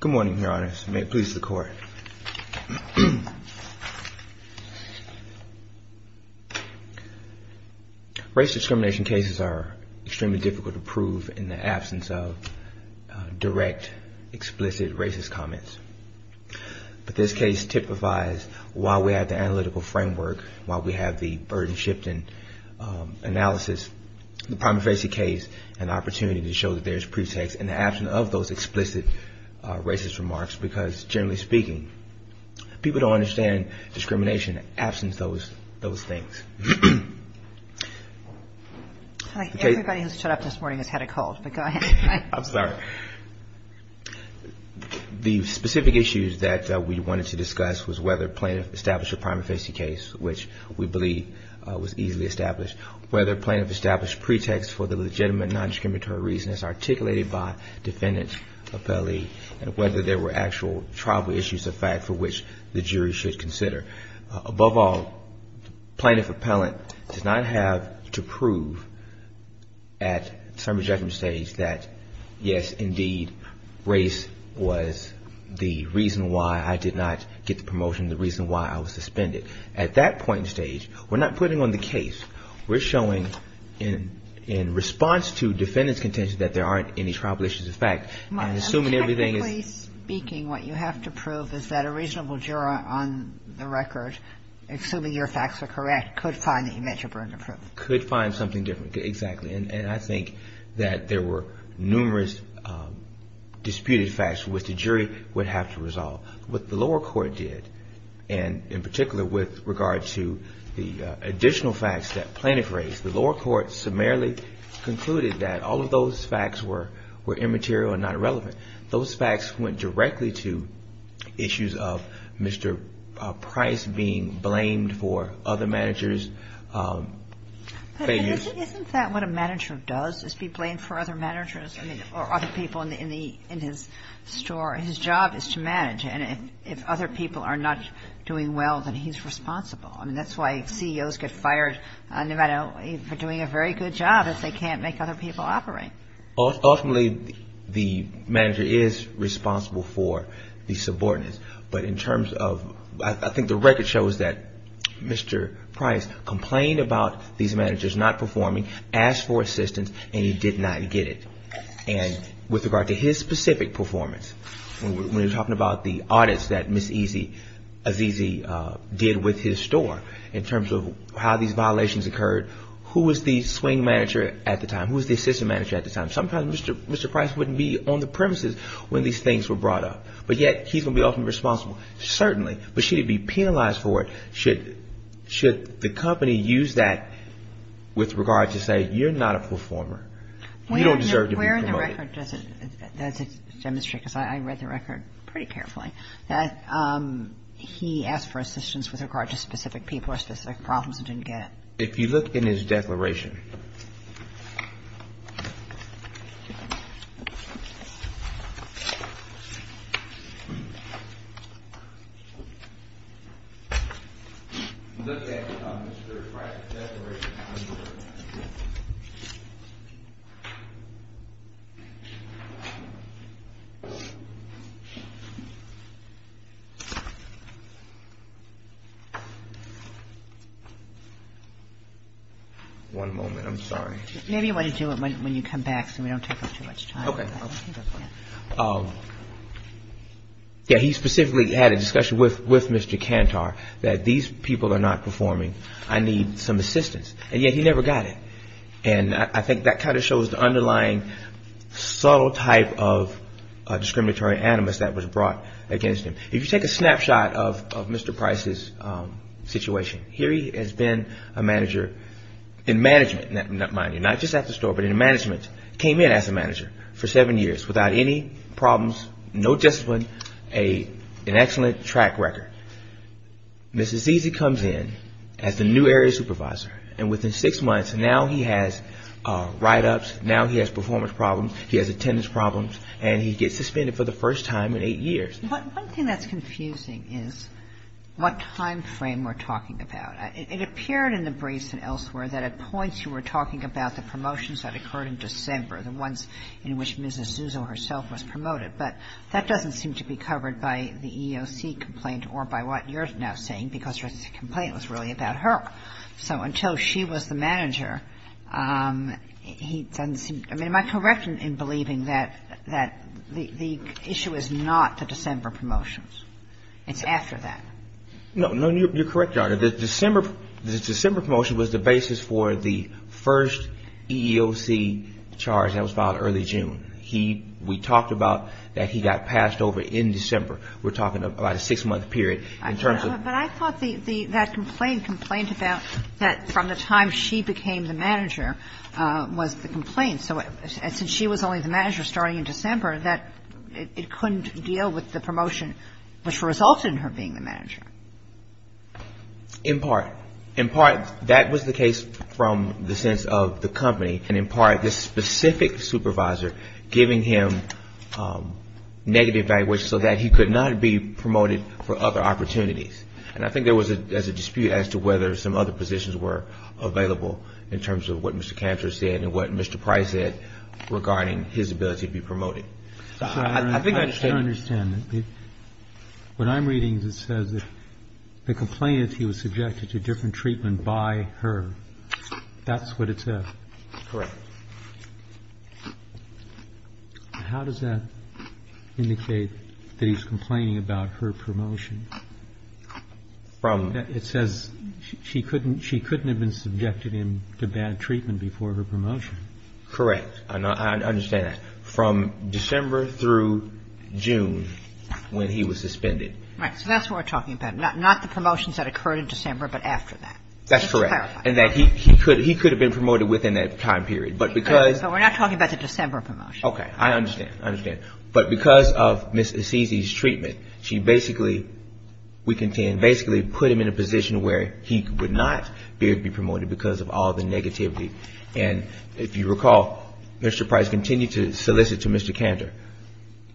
Good morning, Your Honors. Please, the Court. Race discrimination cases are extremely difficult to prove in the absence of direct, explicit racist comments. But this case typifies, while we have the analytical framework, while we have the burden-shifting analysis, the prima facie case, an opportunity to show that there's pretext in the absence of those explicit racist remarks because, generally speaking, people don't understand discrimination in the absence of those things. I think everybody who stood up this morning has had a cold, but go ahead. I'm sorry. The specific issues that we wanted to discuss was whether plaintiff established a prima facie case, which we believe was easily established, whether plaintiff established pretext for the legitimate non-discriminatory reasons articulated by defendant's appellee, and whether there were actual tribal issues of fact for which the jury should consider. Above all, plaintiff appellant does not have to prove at summary judgment stage that, yes, indeed, race was the reason why I did not get the promotion, the reason why I was suspended. At that point in stage, we're not putting on the case. We're showing in response to defendant's contention that there aren't any tribal issues of fact. And assuming everything is… Technically speaking, what you have to prove is that a reasonable juror on the record, assuming your facts are correct, could find that you met your burden of proof. Could find something different. Exactly. And I think that there were numerous disputed facts which the jury would have to resolve. What the lower court did, and in particular with regard to the additional facts that plaintiff raised, the lower court summarily concluded that all of those facts were immaterial and not relevant. Those facts went directly to issues of Mr. Price being blamed for other managers' failures. Isn't that what a manager does, is be blamed for other managers or other people in his store? His job is to manage. And if other people are not doing well, then he's responsible. I mean, that's why CEOs get fired no matter if they're doing a very good job, if they can't make other people operate. Ultimately, the manager is responsible for the subordinates. I think the record shows that Mr. Price complained about these managers not performing, asked for assistance, and he did not get it. And with regard to his specific performance, when he was talking about the audits that Ms. Ezezie did with his store in terms of how these violations occurred, who was the swing manager at the time? Who was the assistant manager at the time? Sometimes Mr. Price wouldn't be on the premises when these things were brought up. But yet, he's going to be ultimately responsible, certainly. But should he be penalized for it, should the company use that with regard to say, you're not a performer? You don't deserve to be promoted. Where in the record does it demonstrate, because I read the record pretty carefully, that he asked for assistance with regard to specific people or specific problems and didn't get it? If you look in his declaration. If you look at Mr. Price's declaration. One moment. I'm sorry. Maybe you want to do it when you come back so we don't take up too much time. Okay. He specifically had a discussion with Mr. Cantor that these people are not performing. I need some assistance. And yet, he never got it. And I think that kind of shows the underlying subtle type of discriminatory animus that was brought against him. If you take a snapshot of Mr. Price's situation. Here he has been a manager in management, not just at the store, but in management. Came in as a manager for seven years without any problems, no discipline, an excellent track record. Mrs. Zizzi comes in as the new area supervisor. And within six months, now he has write-ups, now he has performance problems, he has attendance problems, and he gets suspended for the first time in eight years. One thing that's confusing is what time frame we're talking about. It appeared in the briefs and elsewhere that at points you were talking about the promotions that occurred in December, the ones in which Mrs. Zuzo herself was promoted. But that doesn't seem to be covered by the EEOC complaint or by what you're now saying, because her complaint was really about her. So until she was the manager, he doesn't seem to be. Am I correct in believing that the issue is not the December promotions? It's after that. No. You're correct, Your Honor. The December promotion was the basis for the first EEOC charge that was filed early June. He – we talked about that he got passed over in December. We're talking about a six-month period in terms of – But I thought the – that complaint complained about that from the time she became the manager was the complaint. So since she was only the manager starting in December, that – it couldn't deal with the promotion which resulted in her being the manager. In part. In part, that was the case from the sense of the company. And in part, this specific supervisor giving him negative evaluation so that he could not be promoted for other opportunities. And I think there was a dispute as to whether some other positions were available in terms of what Mr. Cantor said and what Mr. Price said regarding his ability to be promoted. I think I understand. I understand. What I'm reading is it says that the complaint is he was subjected to different treatment by her. That's what it says. Correct. How does that indicate that he's complaining about her promotion? From – It says she couldn't – she couldn't have been subjected him to bad treatment before her promotion. Correct. And I understand that. From December through June when he was suspended. Right. So that's what we're talking about. Not the promotions that occurred in December, but after that. That's correct. Just to clarify. And that he could have been promoted within that time period. But because – So we're not talking about the December promotion. Okay. I understand. I understand. But because of Ms. Assisi's treatment, she basically – we can basically put him in a position where he would not be able to be promoted because of all the negativity. And if you recall, Mr. Price continued to solicit to Mr. Cantor,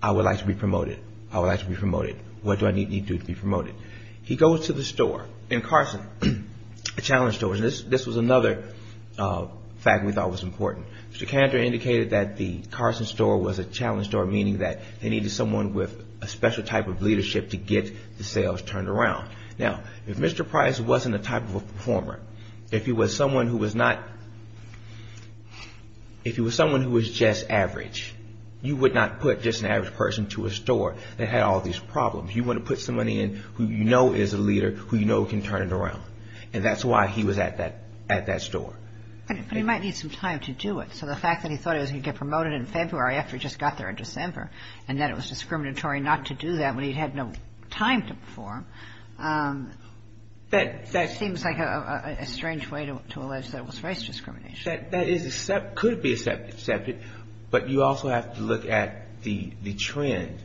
I would like to be promoted. I would like to be promoted. What do I need to do to be promoted? He goes to the store in Carson, a challenge store, and this was another fact we thought was important. Mr. Cantor indicated that the Carson store was a challenge store, meaning that they needed someone with a special type of leadership to get the sales turned around. Now, if Mr. Price wasn't a type of a performer, if he was someone who was not – if he was someone who was just average, you would not put just an average person to a store that had all these problems. You want to put somebody in who you know is a leader, who you know can turn it around. And that's why he was at that store. But he might need some time to do it. So the fact that he thought he was going to get promoted in February after he just got there in December, and that it was discriminatory not to do that when he had no time to perform, that seems like a strange way to allege that it was race discrimination. That is – could be accepted. But you also have to look at the trend.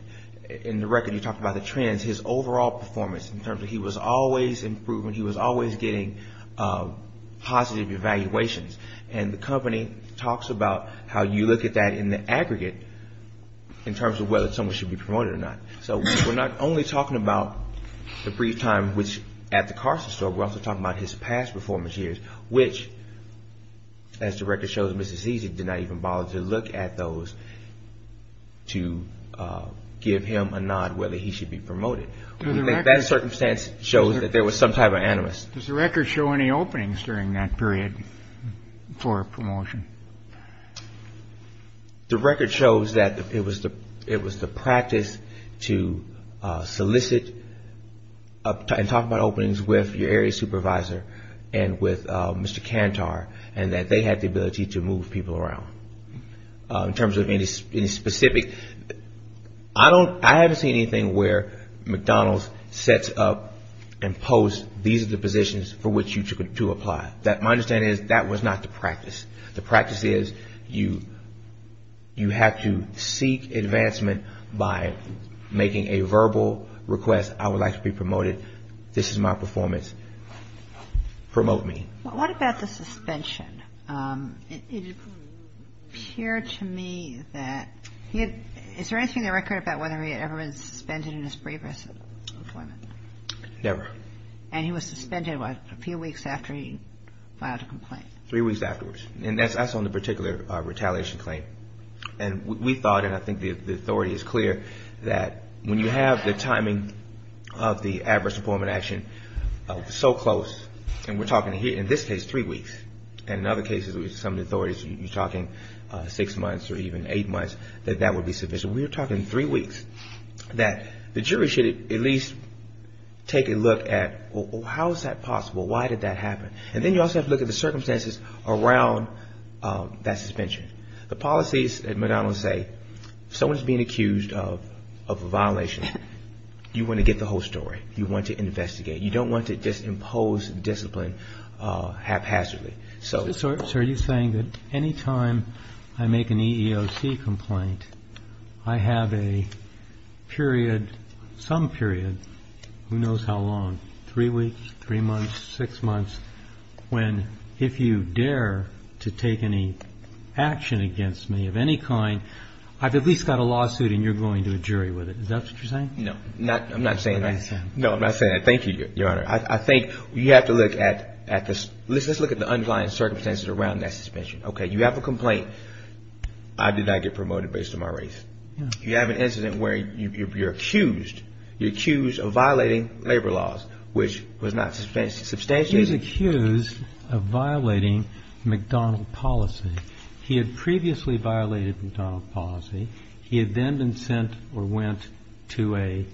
In the record, you talk about the trends. His overall performance in terms of he was always improving, he was always getting positive evaluations. And the company talks about how you look at that in the aggregate in terms of whether someone should be promoted or not. So we're not only talking about the brief time which – at the Carson store, we're also talking about his past performance years, which, as the record shows, Mrs. Easy did not even bother to look at those to give him a nod whether he should be promoted. That circumstance shows that there was some type of animus. Does the record show any openings during that period for a promotion? The record shows that it was the practice to solicit and talk about openings with your area supervisor and with Mr. Cantar, and that they had the ability to move people around. In terms of any specific – I don't – I haven't seen anything where McDonald's sets up and posts these are the positions for which you to apply. My understanding is that was not the practice. The practice is you have to seek advancement by making a verbal request. I would like to be promoted. This is my performance. Promote me. What about the suspension? It appeared to me that he had – is there anything in the record about whether he had ever been suspended in his previous employment? Never. And he was suspended, what, a few weeks after he filed a complaint? Three weeks afterwards. And that's on the particular retaliation claim. And we thought, and I think the authority is clear, that when you have the timing of the adverse employment action so close, and we're talking here in this case three weeks, and in other cases with some of the authorities you're talking six months or even eight months, that that would be sufficient. We were talking three weeks, that the jury should at least take a look at, well, how is that possible? Why did that happen? And then you also have to look at the circumstances around that suspension. The policies at McDonald's say if someone is being accused of a violation, you want to get the whole story. You want to investigate. You don't want to just impose discipline haphazardly. So are you saying that any time I make an EEOC complaint, I have a period, some period, who knows how long, three weeks, three months, six months, when if you dare to take any action against me of any kind, I've at least got a lawsuit and you're going to a jury with it. Is that what you're saying? No. I'm not saying that. No, I'm not saying that. Thank you, Your Honor. I think you have to look at this. Let's look at the underlying circumstances around that suspension. Okay. You have a complaint. I did not get promoted based on my race. You have an incident where you're accused. You're accused of violating labor laws, which was not substantial. He was accused of violating McDonald's policy. He had previously violated McDonald's policy. He had then been sent or went to a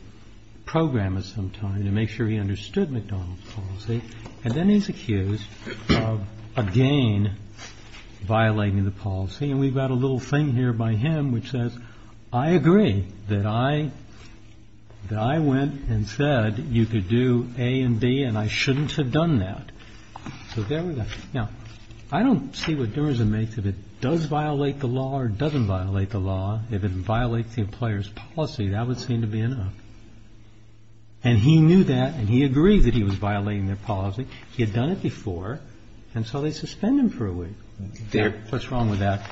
program at some time to make sure he understood McDonald's policy. And then he's accused of again violating the policy. And we've got a little thing here by him which says, I agree that I went and said you could do A and B and I shouldn't have done that. So there we go. Now, I don't see what difference it makes if it does violate the law or doesn't violate the law. If it violates the employer's policy, that would seem to be enough. And he knew that and he agreed that he was violating their policy. He had done it before. And so they suspend him for a week. What's wrong with that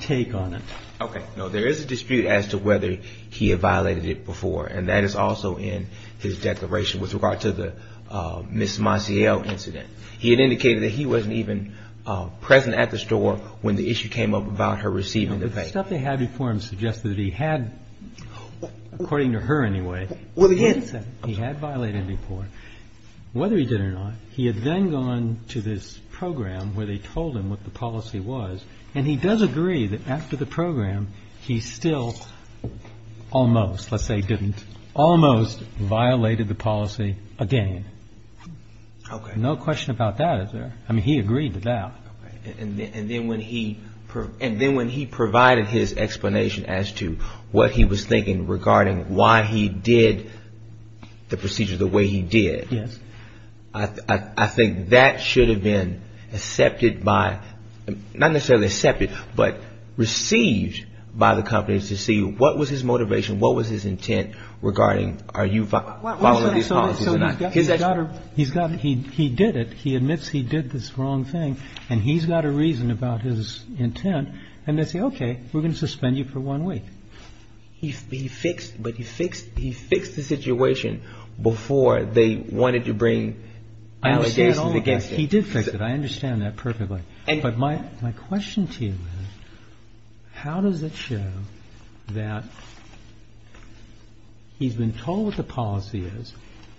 take on it? Okay. No, there is a dispute as to whether he had violated it before. And that is also in his declaration with regard to the Ms. Maciel incident. He had indicated that he wasn't even present at the store when the issue came up about her receiving the pay. The stuff they had before him suggested that he had, according to her anyway, he had violated it before. Whether he did or not, he had then gone to this program where they told him what the policy was. And he does agree that after the program, he still almost, let's say didn't, almost violated the policy again. Okay. No question about that, is there? I mean, he agreed to that. And then when he provided his explanation as to what he was thinking regarding why he did the procedure the way he did. Yes. I think that should have been accepted by, not necessarily accepted, but received by the companies to see what was his motivation, what was his intent regarding are you following these policies or not. He's got it. He did it. He admits he did this wrong thing and he's got a reason about his intent. And they say, okay, we're going to suspend you for one week. He fixed, but he fixed the situation before they wanted to bring allegations against him. He did fix it. I understand that perfectly. But my question to you is how does it show that he's been told what the policy is.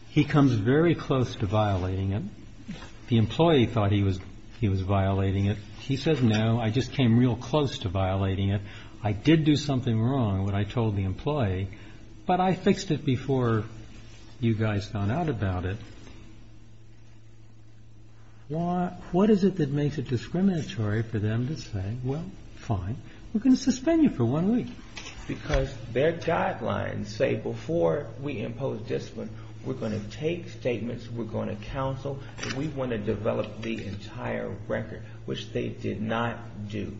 He comes very close to violating it. The employee thought he was violating it. He says, no, I just came real close to violating it. I did do something wrong when I told the employee, but I fixed it before you guys found out about it. What is it that makes it discriminatory for them to say, well, fine, we're going to suspend you for one week. Because their guidelines say before we impose discipline, we're going to take statements, we're going to counsel, and we want to develop the entire record, which they did not do.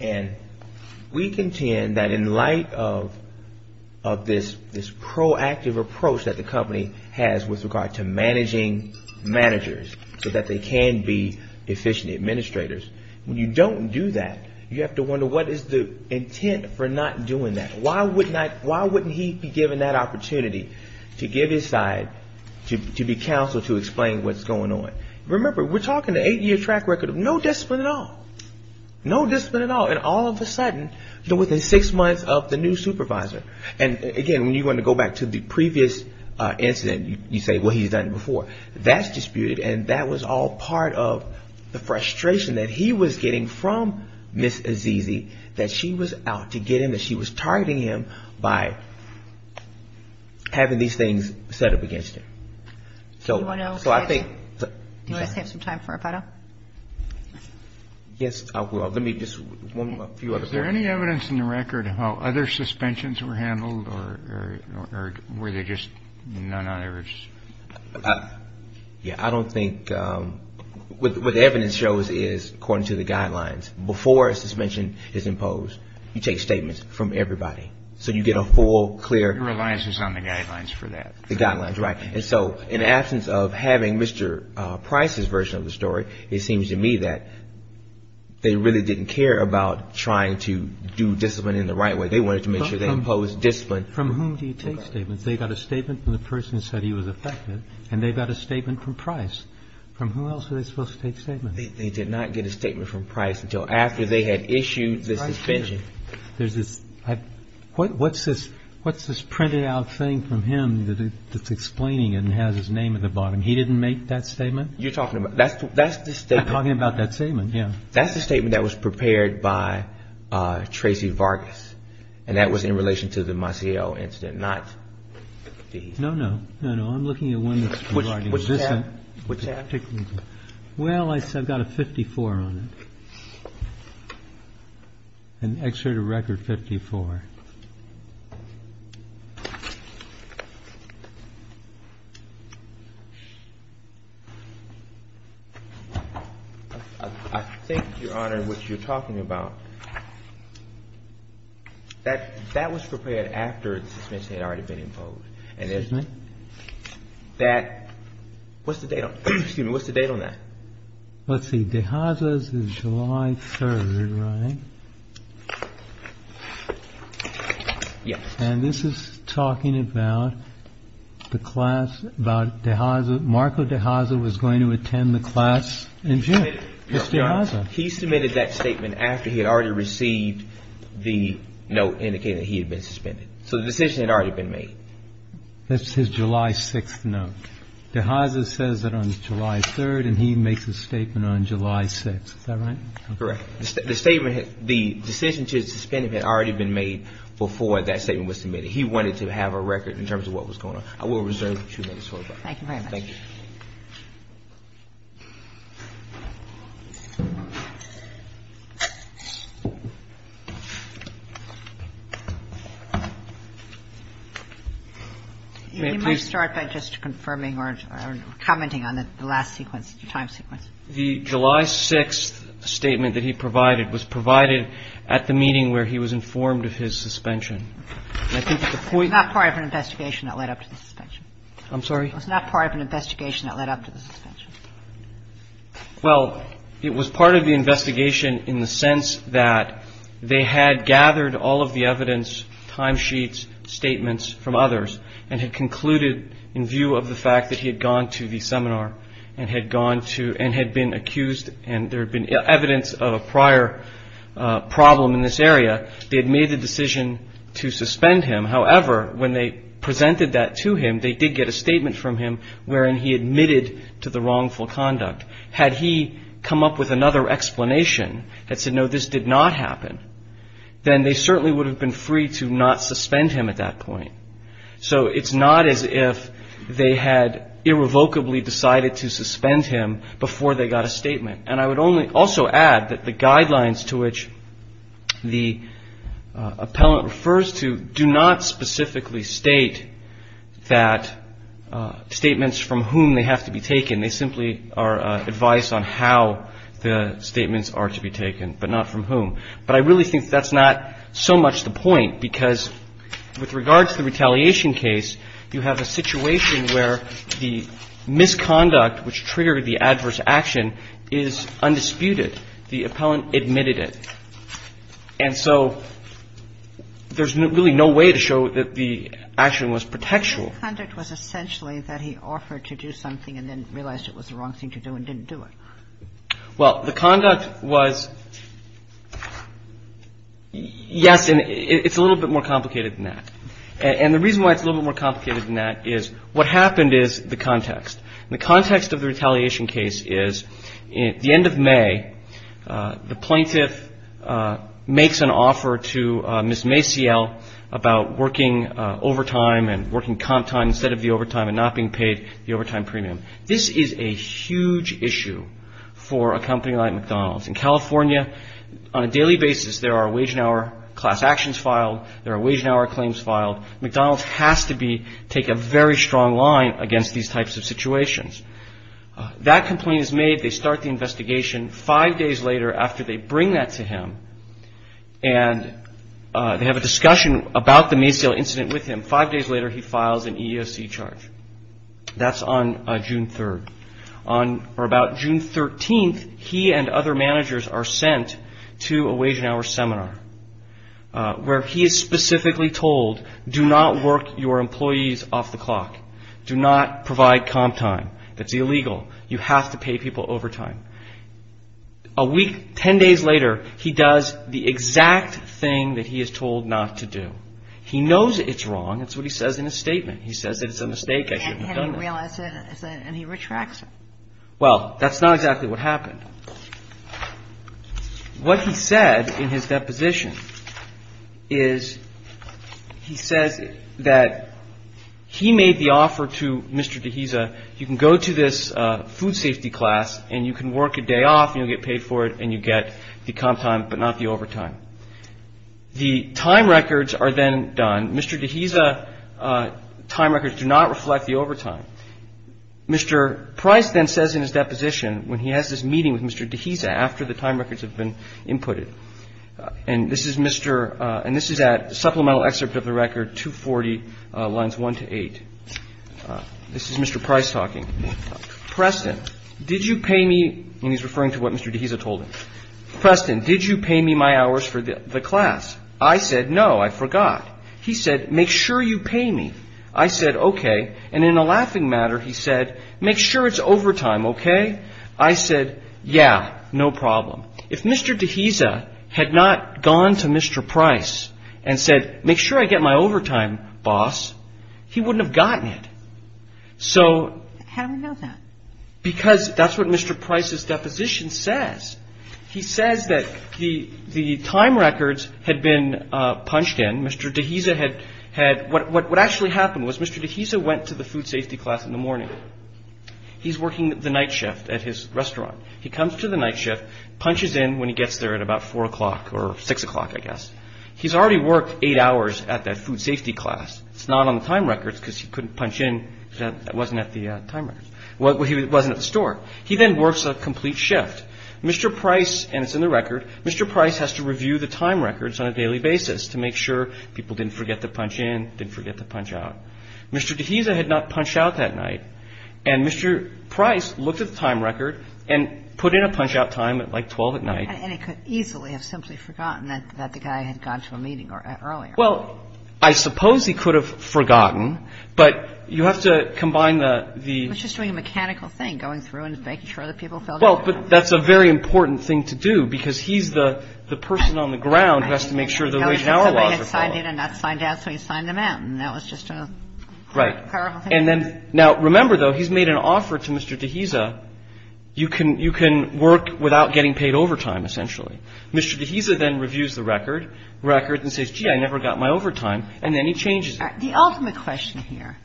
And we contend that in light of this proactive approach that the company has with regard to managing managers so that they can be efficient administrators, when you don't do that, you have to wonder what is the intent for not doing that. Why wouldn't he be given that opportunity to give his side, to be counseled, to explain what's going on. Remember, we're talking an eight-year track record of no discipline at all. No discipline at all. And all of a sudden, within six months of the new supervisor. And again, when you want to go back to the previous incident, you say, well, he's done it before. So that's disputed, and that was all part of the frustration that he was getting from Ms. Azizi, that she was out to get him, that she was targeting him by having these things set up against him. So I think. Do you guys have some time for a photo? Yes, I will. Let me just. Is there any evidence in the record how other suspensions were handled, or were they just none on average? Yeah. I don't think. What the evidence shows is, according to the guidelines, before a suspension is imposed, you take statements from everybody. So you get a full, clear. Your reliance is on the guidelines for that. The guidelines, right. And so in the absence of having Mr. Price's version of the story, it seems to me that they really didn't care about trying to do discipline in the right way. They wanted to make sure they imposed discipline. From whom do you take statements? They got a statement from the person who said he was affected, and they got a statement from Price. From whom else are they supposed to take statements? They did not get a statement from Price until after they had issued the suspension. There's this. What's this printed out thing from him that's explaining it and has his name at the bottom? He didn't make that statement? You're talking about. That's the statement. I'm talking about that statement, yeah. That's the statement that was prepared by Tracy Vargas, and that was in relation to the Maciel incident, not the. No, no. No, no. I'm looking at one that's. What's that? Well, I've got a 54 on it. An excerpt of record 54. I think, Your Honor, what you're talking about, that was prepared after the suspension had already been imposed, and isn't it? That. What's the date? Excuse me. What's the date on that? Let's see. July 3rd, right? Yes. And this is talking about the class, about Dehaza. Marco Dehaza was going to attend the class in June. He submitted that statement after he had already received the note indicating he had been suspended. So the decision had already been made. That's his July 6th note. Dehaza says that on July 3rd, and he makes a statement on July 6th. Is that right? Correct. The statement had the decision to suspend him had already been made before that statement was submitted. He wanted to have a record in terms of what was going on. I will reserve two minutes for that. Thank you very much. You may start by just confirming or commenting on the last sequence, the time sequence. The July 6th statement that he provided was provided at the meeting where he was informed of his suspension. It's not part of an investigation that led up to the suspension. I'm sorry? It's not part of an investigation that led up to the suspension. Well, it was part of the investigation in the sense that they had gathered all of the evidence, time sheets, statements from others and had concluded in view of the fact that he had gone to the seminar and had gone to and had been accused and there had been evidence of a prior problem in this area. They had made the decision to suspend him. However, when they presented that to him, they did get a statement from him wherein he admitted to the wrongful conduct. Had he come up with another explanation that said, no, this did not happen, then they certainly would have been free to not suspend him at that point. So it's not as if they had irrevocably decided to suspend him before they got a statement. And I would also add that the guidelines to which the appellant refers to do not specifically state that statements from whom they have to be taken. They simply are advice on how the statements are to be taken, but not from whom. But I really think that's not so much the point because with regard to the retaliation case, you have a situation where the misconduct which triggered the adverse action is undisputed. The appellant admitted it. And so there's really no way to show that the action was protectual. Kagan. The misconduct was essentially that he offered to do something and then realized it was the wrong thing to do and didn't do it. Well, the conduct was, yes, and it's a little bit more complicated than that. And the reason why it's a little bit more complicated than that is what happened is the context. The context of the retaliation case is at the end of May, the plaintiff makes an offer to Ms. Maciel about working overtime and working comp time instead of the overtime and not being paid the overtime premium. This is a huge issue for a company like McDonald's. In California, on a daily basis, there are wage and hour class actions filed. There are wage and hour claims filed. McDonald's has to take a very strong line against these types of situations. That complaint is made. They start the investigation five days later after they bring that to him. And they have a discussion about the Maciel incident with him. Five days later, he files an EEOC charge. That's on June 3rd. On or about June 13th, he and other managers are sent to a wage and hour seminar where he is specifically told, do not work your employees off the clock. Do not provide comp time. That's illegal. You have to pay people overtime. A week, 10 days later, he does the exact thing that he is told not to do. He knows it's wrong. He says it's a mistake. I should have done that. And he retracts it. Well, that's not exactly what happened. What he said in his deposition is he says that he made the offer to Mr. Dehesa, you can go to this food safety class and you can work a day off and you'll get paid for it and you get the comp time but not the overtime. The time records are then done. Mr. Dehesa's time records do not reflect the overtime. Mr. Price then says in his deposition when he has this meeting with Mr. Dehesa after the time records have been inputted, and this is Mr. – and this is at supplemental excerpt of the record 240 lines 1 to 8. This is Mr. Price talking. Preston, did you pay me – and he's referring to what Mr. Dehesa told him. Preston, did you pay me my hours for the class? I said no. I forgot. He said make sure you pay me. I said okay. And in a laughing matter he said make sure it's overtime, okay. I said yeah, no problem. If Mr. Dehesa had not gone to Mr. Price and said make sure I get my overtime, boss, he wouldn't have gotten it. So – How do we know that? Because that's what Mr. Price's deposition says. He says that the time records had been punched in. Mr. Dehesa had – what actually happened was Mr. Dehesa went to the food safety class in the morning. He's working the night shift at his restaurant. He comes to the night shift, punches in when he gets there at about 4 o'clock or 6 o'clock, I guess. He's already worked eight hours at that food safety class. It's not on the time records because he couldn't punch in. It wasn't at the time records. It wasn't at the store. He then works a complete shift. Mr. Price, and it's in the record, Mr. Price has to review the time records on a daily basis to make sure people didn't forget to punch in, didn't forget to punch out. Mr. Dehesa had not punched out that night. And Mr. Price looked at the time record and put in a punch-out time at like 12 at night. And he could easily have simply forgotten that the guy had gone to a meeting earlier. Well, I suppose he could have forgotten, but you have to combine the – He was just doing a mechanical thing, going through and making sure that people filled in. Well, but that's a very important thing to do because he's the person on the ground who has to make sure the wage and hour laws are filled. Somebody had signed in and not signed out, so he signed them out. And that was just a – Right. And then – now, remember, though, he's made an offer to Mr. Dehesa. You can work without getting paid overtime, essentially. Mr. Dehesa then reviews the record and says, gee, I never got my overtime. And then he changes it. The ultimate question here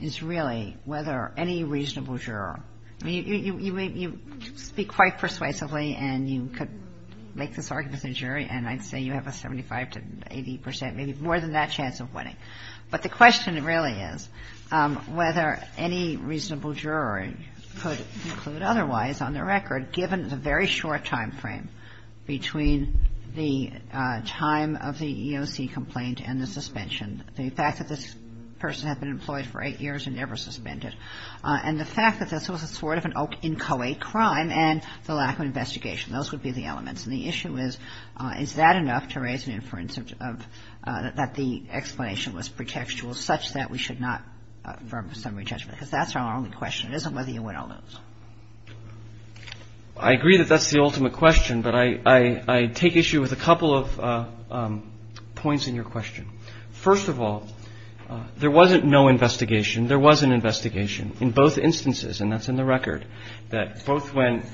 is really whether any reasonable juror – I mean, you speak quite persuasively, and you could make this argument as a jury, and I'd say you have a 75 to 80 percent, maybe more than that chance of winning. But the question really is whether any reasonable juror could conclude otherwise on the record, given the very short time frame between the time of the EEOC complaint and the suspension, the fact that this person had been employed for eight years and never suspended, and the fact that this was a sort of an inchoate crime and the lack of investigation. Those would be the elements. And the issue is, is that enough to raise an inference that the explanation was pretextual such that we should not firm a summary judgment? Because that's our only question. It isn't whether you win or lose. I agree that that's the ultimate question, but I take issue with a couple of points in your question. First of all, there wasn't no investigation. There was an investigation in both instances, and that's in the record, that both when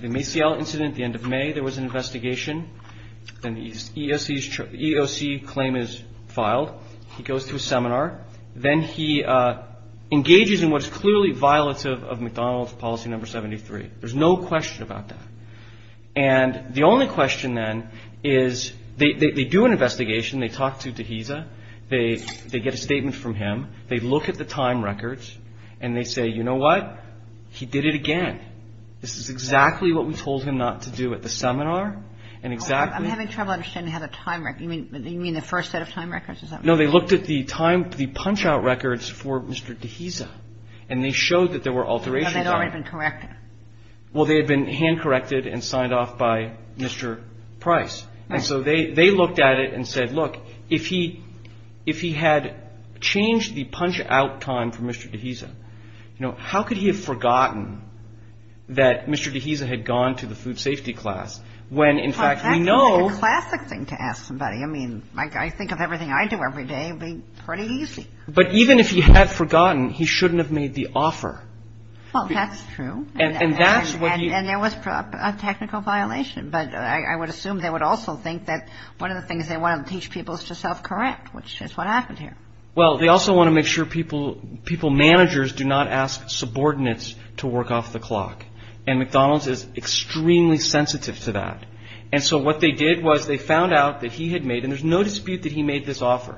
the Maciel incident at the end of May, there was an investigation. Then the EEOC claim is filed. He goes to a seminar. Then he engages in what is clearly violative of McDonald's policy number 73. There's no question about that. And the only question, then, is they do an investigation. They talk to Dehesa. They get a statement from him. They look at the time records, and they say, you know what, he did it again. This is exactly what we told him not to do at the seminar. And exactly the first set of time records. No, they looked at the time, the punch-out records for Mr. Dehesa, and they showed that there were alterations. They had already been corrected. Well, they had been hand-corrected and signed off by Mr. Price. And so they looked at it and said, look, if he had changed the punch-out time for Mr. Dehesa, you know, how could he have forgotten that Mr. Dehesa had gone to the food safety class when, in fact, we know. That's a classic thing to ask somebody. I mean, I think of everything I do every day. It would be pretty easy. But even if he had forgotten, he shouldn't have made the offer. Well, that's true. And that's what he. And there was a technical violation. But I would assume they would also think that one of the things they want to teach people is to self-correct, which is what happened here. Well, they also want to make sure people, managers do not ask subordinates to work off the clock. And McDonald's is extremely sensitive to that. And so what they did was they found out that he had made and there's no dispute that he made this offer.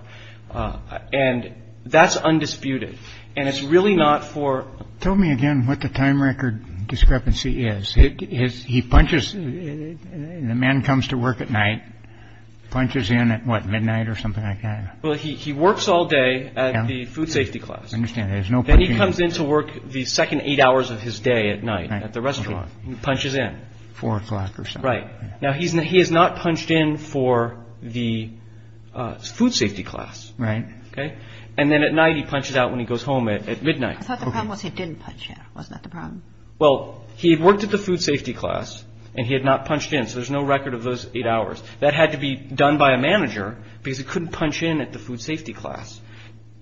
And that's undisputed. And it's really not for. Tell me again what the time record discrepancy is. He punches. The man comes to work at night, punches in at midnight or something like that. Well, he works all day at the food safety class. There's no. Then he comes in to work the second eight hours of his day at night at the restaurant. Punches in four o'clock. Right now. He's not he has not punched in for the food safety class. Right. OK. And then at night he punches out when he goes home at midnight. I thought the problem was he didn't punch in. Wasn't that the problem? Well, he worked at the food safety class and he had not punched in. So there's no record of those eight hours that had to be done by a manager because he couldn't punch in at the food safety class.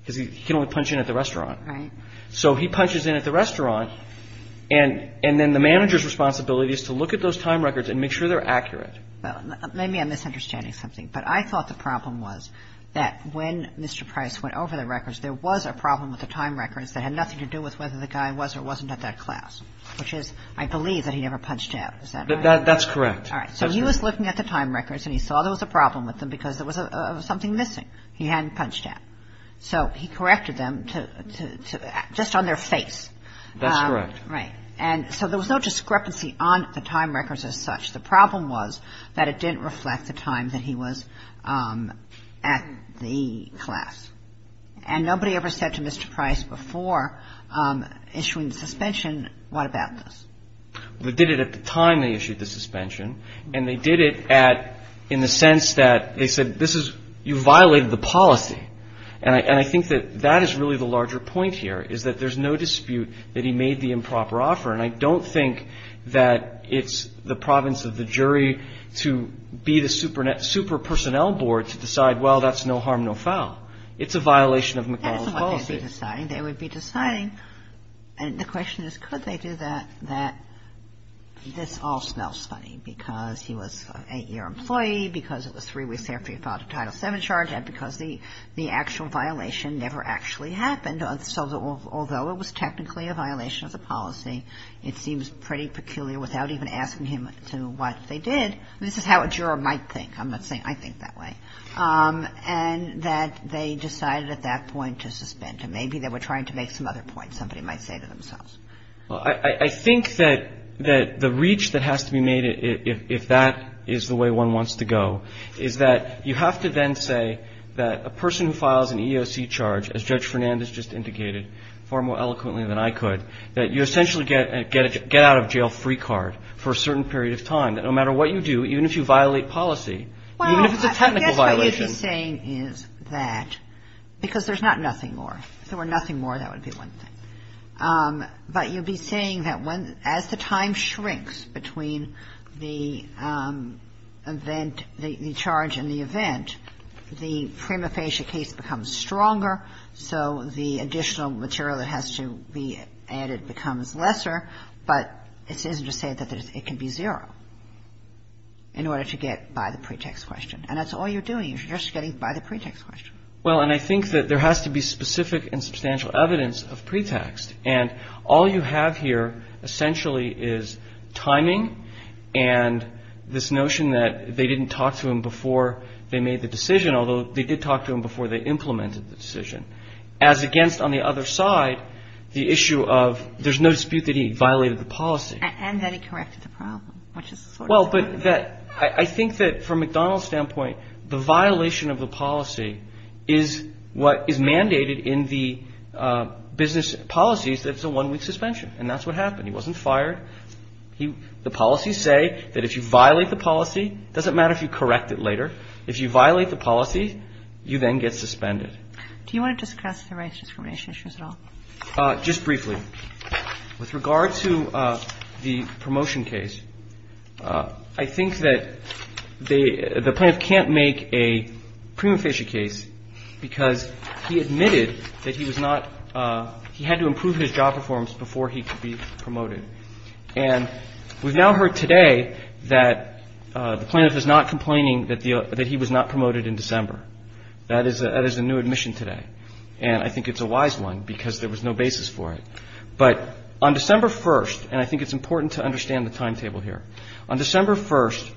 Because he can only punch in at the restaurant. So he punches in at the restaurant. And then the manager's responsibility is to look at those time records and make sure they're accurate. Maybe I'm misunderstanding something. But I thought the problem was that when Mr. Price went over the records, there was a problem with the time records that had nothing to do with whether the guy was or wasn't at that class, which is I believe that he never punched out. That's correct. All right. So he was looking at the time records and he saw there was a problem with them because there was something missing. He hadn't punched out. So he corrected them to just on their face. That's correct. Right. And so there was no discrepancy on the time records as such. The problem was that it didn't reflect the time that he was at the class. And nobody ever said to Mr. Price before issuing the suspension, what about this? Well, they did it at the time they issued the suspension. And they did it at in the sense that they said this is you violated the policy. And I think that that is really the larger point here is that there's no dispute that he made the improper offer. And I don't think that it's the province of the jury to be the super personnel board to decide, well, that's no harm, no foul. It's a violation of McConnell's policy. That's not what they'd be deciding. They would be deciding, and the question is could they do that, that this all smells funny because he was an eight-year employee, because it was three weeks after he filed a Title VII charge, and because the actual violation never actually happened. So although it was technically a violation of the policy, it seems pretty peculiar without even asking him to what they did. This is how a juror might think. I'm not saying I think that way. And that they decided at that point to suspend him. Maybe they were trying to make some other point, somebody might say to themselves. Well, I think that the reach that has to be made if that is the way one wants to go is that you have to then say that a person who files an EEOC charge, as Judge Fernandez just indicated far more eloquently than I could, that you essentially get out of jail free card for a certain period of time, that no matter what you do, even if you violate policy, even if it's a technical violation. Well, I guess what he's saying is that, because there's not nothing more. If there were nothing more, that would be one thing. But you'd be saying that as the time shrinks between the event, the charge and the event, the prima facie case becomes stronger, so the additional material that has to be added becomes lesser. But this isn't to say that it can be zero in order to get by the pretext question. And that's all you're doing is you're just getting by the pretext question. Well, and I think that there has to be specific and substantial evidence of pretext. And all you have here essentially is timing and this notion that they didn't talk to him before they made the decision, although they did talk to him before they implemented the decision. As against, on the other side, the issue of there's no dispute that he violated the policy. And that he corrected the problem, which is sort of true. Well, but I think that from McDonald's standpoint, the violation of the policy is what is mandated in the business policies that it's a one-week suspension. And that's what happened. He wasn't fired. The policies say that if you violate the policy, it doesn't matter if you correct it later. If you violate the policy, you then get suspended. Do you want to discuss the rights discrimination issues at all? Just briefly. With regard to the promotion case, I think that the plaintiff can't make a prima facie case because he admitted that he was not he had to improve his job performance before he could be promoted. And we've now heard today that the plaintiff is not complaining that he was not promoted in December. That is a new admission today. And I think it's a wise one because there was no basis for it. But on December 1st, and I think it's important to understand the timetable here, on December 1st,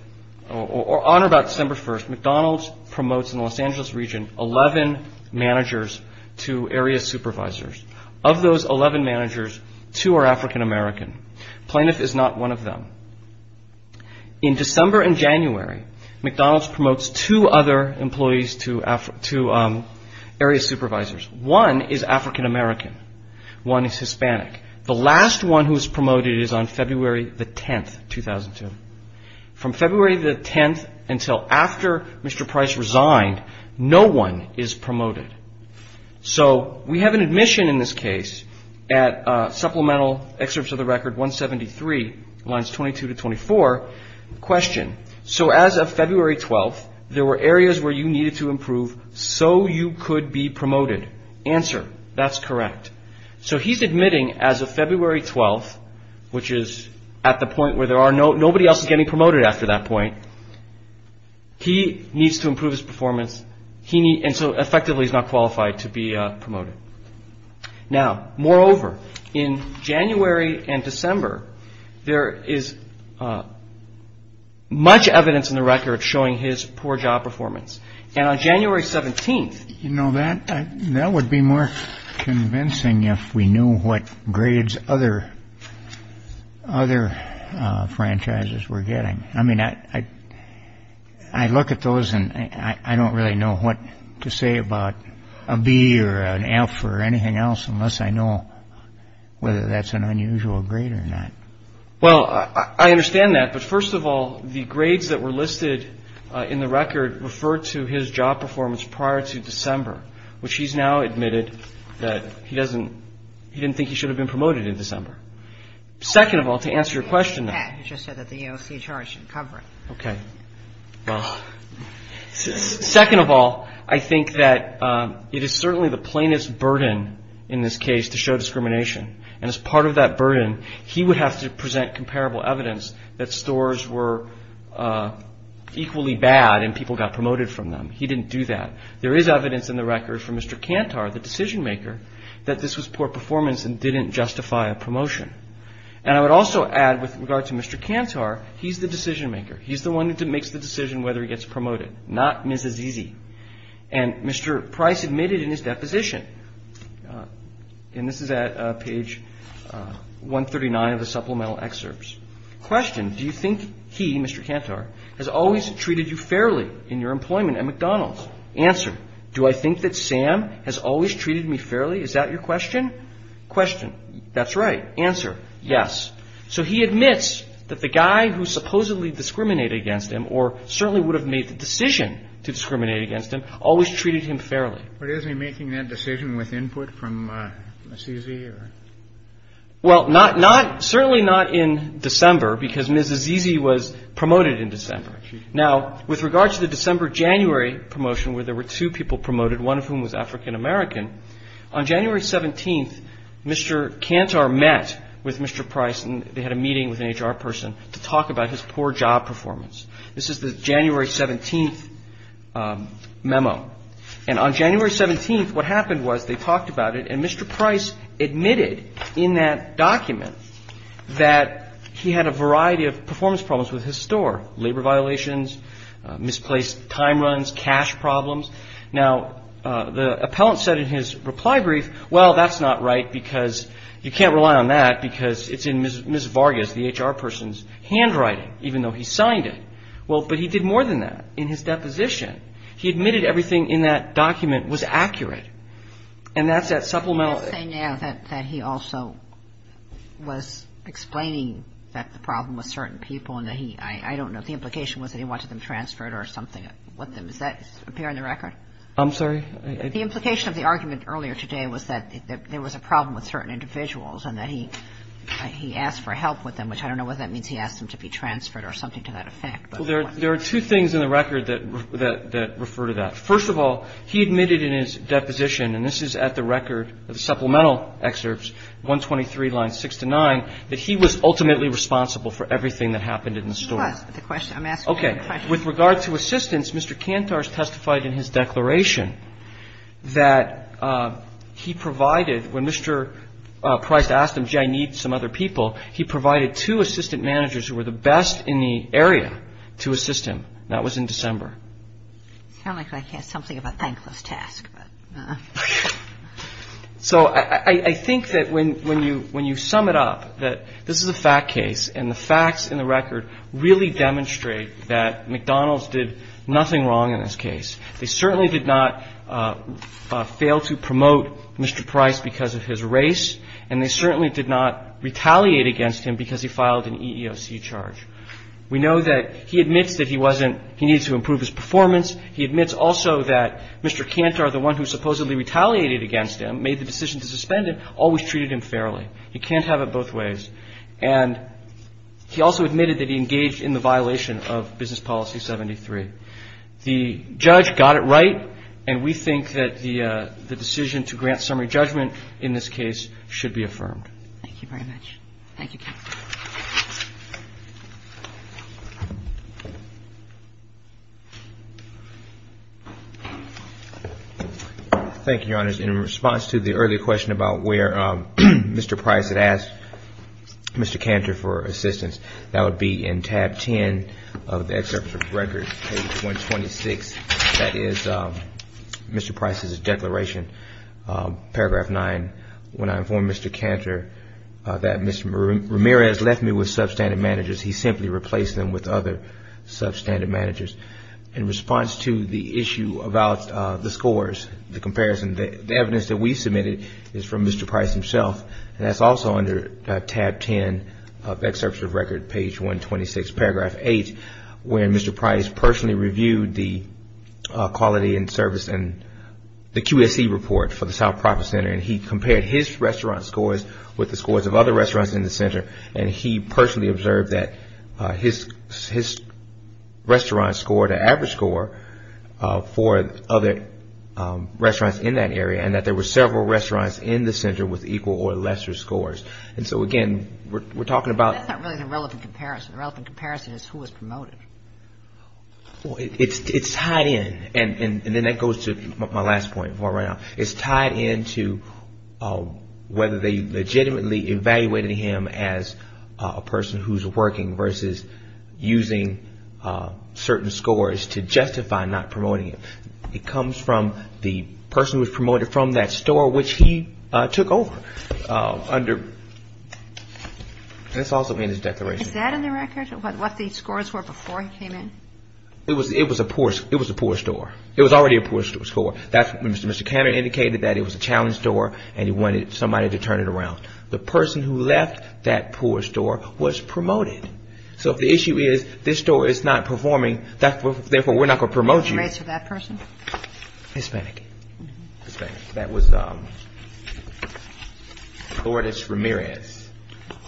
or on or about December 1st, McDonald's promotes in the Los Angeles region, 11 managers to area supervisors. Of those 11 managers, two are African-American. Plaintiff is not one of them. In December and January, McDonald's promotes two other employees to area supervisors. One is African-American. One is Hispanic. The last one who is promoted is on February the 10th, 2002. From February the 10th until after Mr. Price resigned, no one is promoted. So we have an admission in this case at supplemental excerpts of the record 173, lines 22 to 24, question. So as of February 12th, there were areas where you needed to improve so you could be promoted. Answer. That's correct. So he's admitting as of February 12th, which is at the point where there are no nobody else is getting promoted after that point. He needs to improve his performance. So effectively, he's not qualified to be promoted. Now, moreover, in January and December, there is much evidence in the record showing his poor job performance. And on January 17th. You know, that would be more convincing if we knew what grades other franchises were getting. I mean, I look at those and I don't really know what to say about a B or an F or anything else unless I know whether that's an unusual grade or not. Well, I understand that. But first of all, the grades that were listed in the record refer to his job performance prior to December, which he's now admitted that he doesn't he didn't think he should have been promoted in December. Second of all, to answer your question. You just said that the EOC charge didn't cover it. Okay. Well, second of all, I think that it is certainly the plainest burden in this case to show discrimination. And as part of that burden, he would have to present comparable evidence that stores were equally bad and people got promoted from them. He didn't do that. There is evidence in the record from Mr. Cantor, the decision maker, that this was poor performance and didn't justify a promotion. And I would also add with regard to Mr. Cantor, he's the decision maker. He's the one who makes the decision whether he gets promoted, not Mrs. Easy. And Mr. Price admitted in his deposition. And this is at page 139 of the supplemental excerpts. Question. Do you think he, Mr. Cantor, has always treated you fairly in your employment at McDonald's? Answer. Do I think that Sam has always treated me fairly? Is that your question? Question. That's right. Answer. Yes. So he admits that the guy who supposedly discriminated against him or certainly would have made the decision to discriminate against him always treated him fairly. But isn't he making that decision with input from Mrs. Easy? Well, certainly not in December because Mrs. Easy was promoted in December. Now, with regard to the December-January promotion where there were two people promoted, one of whom was African-American, on January 17th, Mr. Cantor met with Mr. Price and they had a meeting with an HR person to talk about his poor job performance. This is the January 17th memo. And on January 17th, what happened was they talked about it and Mr. Price admitted in that document that he had a variety of performance problems with his store, labor violations, misplaced time runs, cash problems. Now, the appellant said in his reply brief, well, that's not right because you can't rely on that because it's in Ms. Vargas, the HR person's handwriting, even though he signed it. Well, but he did more than that in his deposition. He admitted everything in that document was accurate. And that's that supplemental. You're saying now that he also was explaining that the problem was certain people and that he – I don't know if the implication was that he wanted them transferred or something with them. Does that appear in the record? I'm sorry? The implication of the argument earlier today was that there was a problem with certain individuals and that he asked for help with them, which I don't know whether that means he asked them to be transferred or something to that effect. Well, there are two things in the record that refer to that. First of all, he admitted in his deposition, and this is at the record of the supplemental excerpts, 123 lines 6 to 9, that he was ultimately responsible for everything that happened in the store. He was. I'm asking the question. Okay. With regard to assistants, Mr. Kantor has testified in his declaration that he provided when Mr. Price asked him, gee, I need some other people, he provided two assistant managers who were the best in the area to assist him. That was in December. It sounds like something of a thankless task. So I think that when you sum it up, that this is a fact case, and the facts in the record really demonstrate that McDonald's did nothing wrong in this case. They certainly did not fail to promote Mr. Price because of his race, and they certainly did not retaliate against him because he filed an EEOC charge. We know that he admits that he wasn't, he needed to improve his performance. He admits also that Mr. Kantor, the one who supposedly retaliated against him, made the decision to suspend him, always treated him fairly. He can't have it both ways. And he also admitted that he engaged in the violation of Business Policy 73. The judge got it right, and we think that the decision to grant summary judgment in this case should be affirmed. Thank you very much. Thank you, Counsel. Thank you, Your Honors. In response to the earlier question about where Mr. Price had asked Mr. Kantor for assistance, that would be in tab 10 of the excerpt from the record, page 126. That is Mr. Price's declaration, paragraph 9, when I informed Mr. Kantor that Mr. Ramirez left me with substandard managers. He simply replaced them with other substandard managers. In response to the issue about the scores, the comparison, the evidence that we submitted is from Mr. Price himself, and that's also under tab 10 of the excerpt from the record, page 126, paragraph 8, where Mr. Price personally reviewed the quality and service and the QSE report for the South Proctor Center, and he compared his restaurant scores with the scores of other restaurants in the center, and he personally observed that his restaurant scored an average score for other restaurants in that area, and that there were several restaurants in the center with equal or lesser scores. And so, again, we're talking about the. That's not really the relevant comparison. The relevant comparison is who was promoted. Well, it's tied in, and then that goes to my last point before I run out. It's tied in to whether they legitimately evaluated him as a person who's working versus using certain scores to justify not promoting him. It comes from the person who was promoted from that store which he took over under. That's also in his declaration. Is that in the record, what the scores were before he came in? It was a poor store. It was already a poor store. Mr. Cannon indicated that it was a challenged store, and he wanted somebody to turn it around. The person who left that poor store was promoted. So if the issue is this store is not performing, therefore, we're not going to promote you. What was the race of that person? Hispanic. Hispanic. That was Lourdes Ramirez,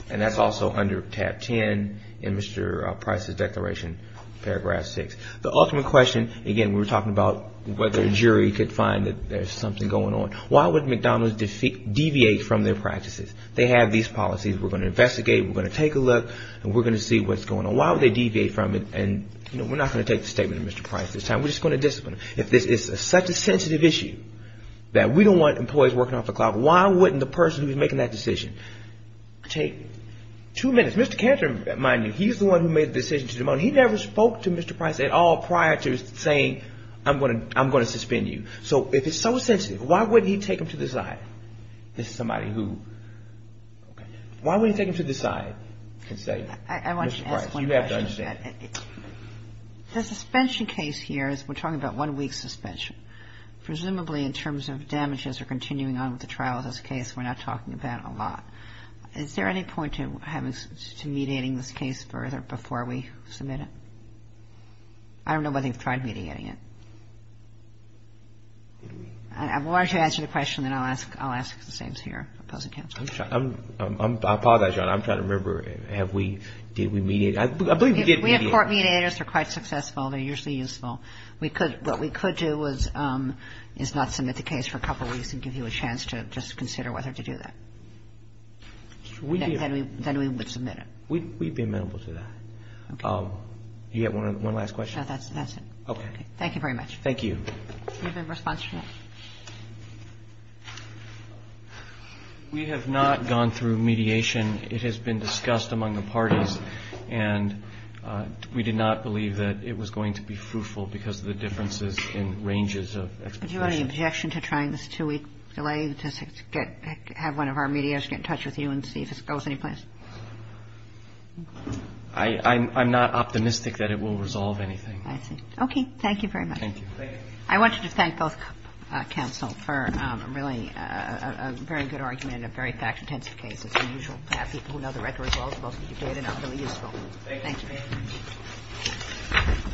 and that's also under tab 10 in Mr. Price's declaration, paragraph 6. The ultimate question, again, we were talking about whether a jury could find that there's something going on. Why would McDonald's deviate from their practices? They have these policies. We're going to investigate. We're going to take a look, and we're going to see what's going on. Why would they deviate from it? And we're not going to take the statement of Mr. Price this time. We're just going to discipline him. If this is such a sensitive issue that we don't want employees working off the clock, why wouldn't the person who's making that decision take two minutes? Mr. Cannon, mind you, he's the one who made the decision to demote. He never spoke to Mr. Price at all prior to saying, I'm going to suspend you. So if it's so sensitive, why wouldn't he take him to the side? This is somebody who why wouldn't he take him to the side and say, Mr. Price, you have to understand. The suspension case here is we're talking about one week's suspension. Presumably in terms of damages or continuing on with the trial of this case, we're not talking about a lot. Is there any point to mediating this case further before we submit it? I don't know whether you've tried mediating it. If you want to answer the question, then I'll ask the same here, opposing counsel. I apologize, Your Honor. I'm trying to remember. Have we? Did we mediate? I believe we did mediate. We have court mediators. They're quite successful. They're usually useful. What we could do is not submit the case for a couple weeks and give you a chance to just consider whether to do that. Then we would submit it. We'd be amenable to that. Okay. Do you have one last question? No, that's it. Okay. Thank you very much. Thank you. Do you have a response to that? We have not gone through mediation. It has been discussed among the parties, and we did not believe that it was going to be fruitful because of the differences in ranges of expectations. Do you have any objection to trying this two-week delay to have one of our mediators get in touch with you and see if this goes anyplace? I'm not optimistic that it will resolve anything. I see. Okay. Thank you very much. Thank you. I wanted to thank both counsel for really a very good argument, a very fact-intensive case. It's unusual to have people who know the record as well as most of you do, and they're not really useful. Thank you.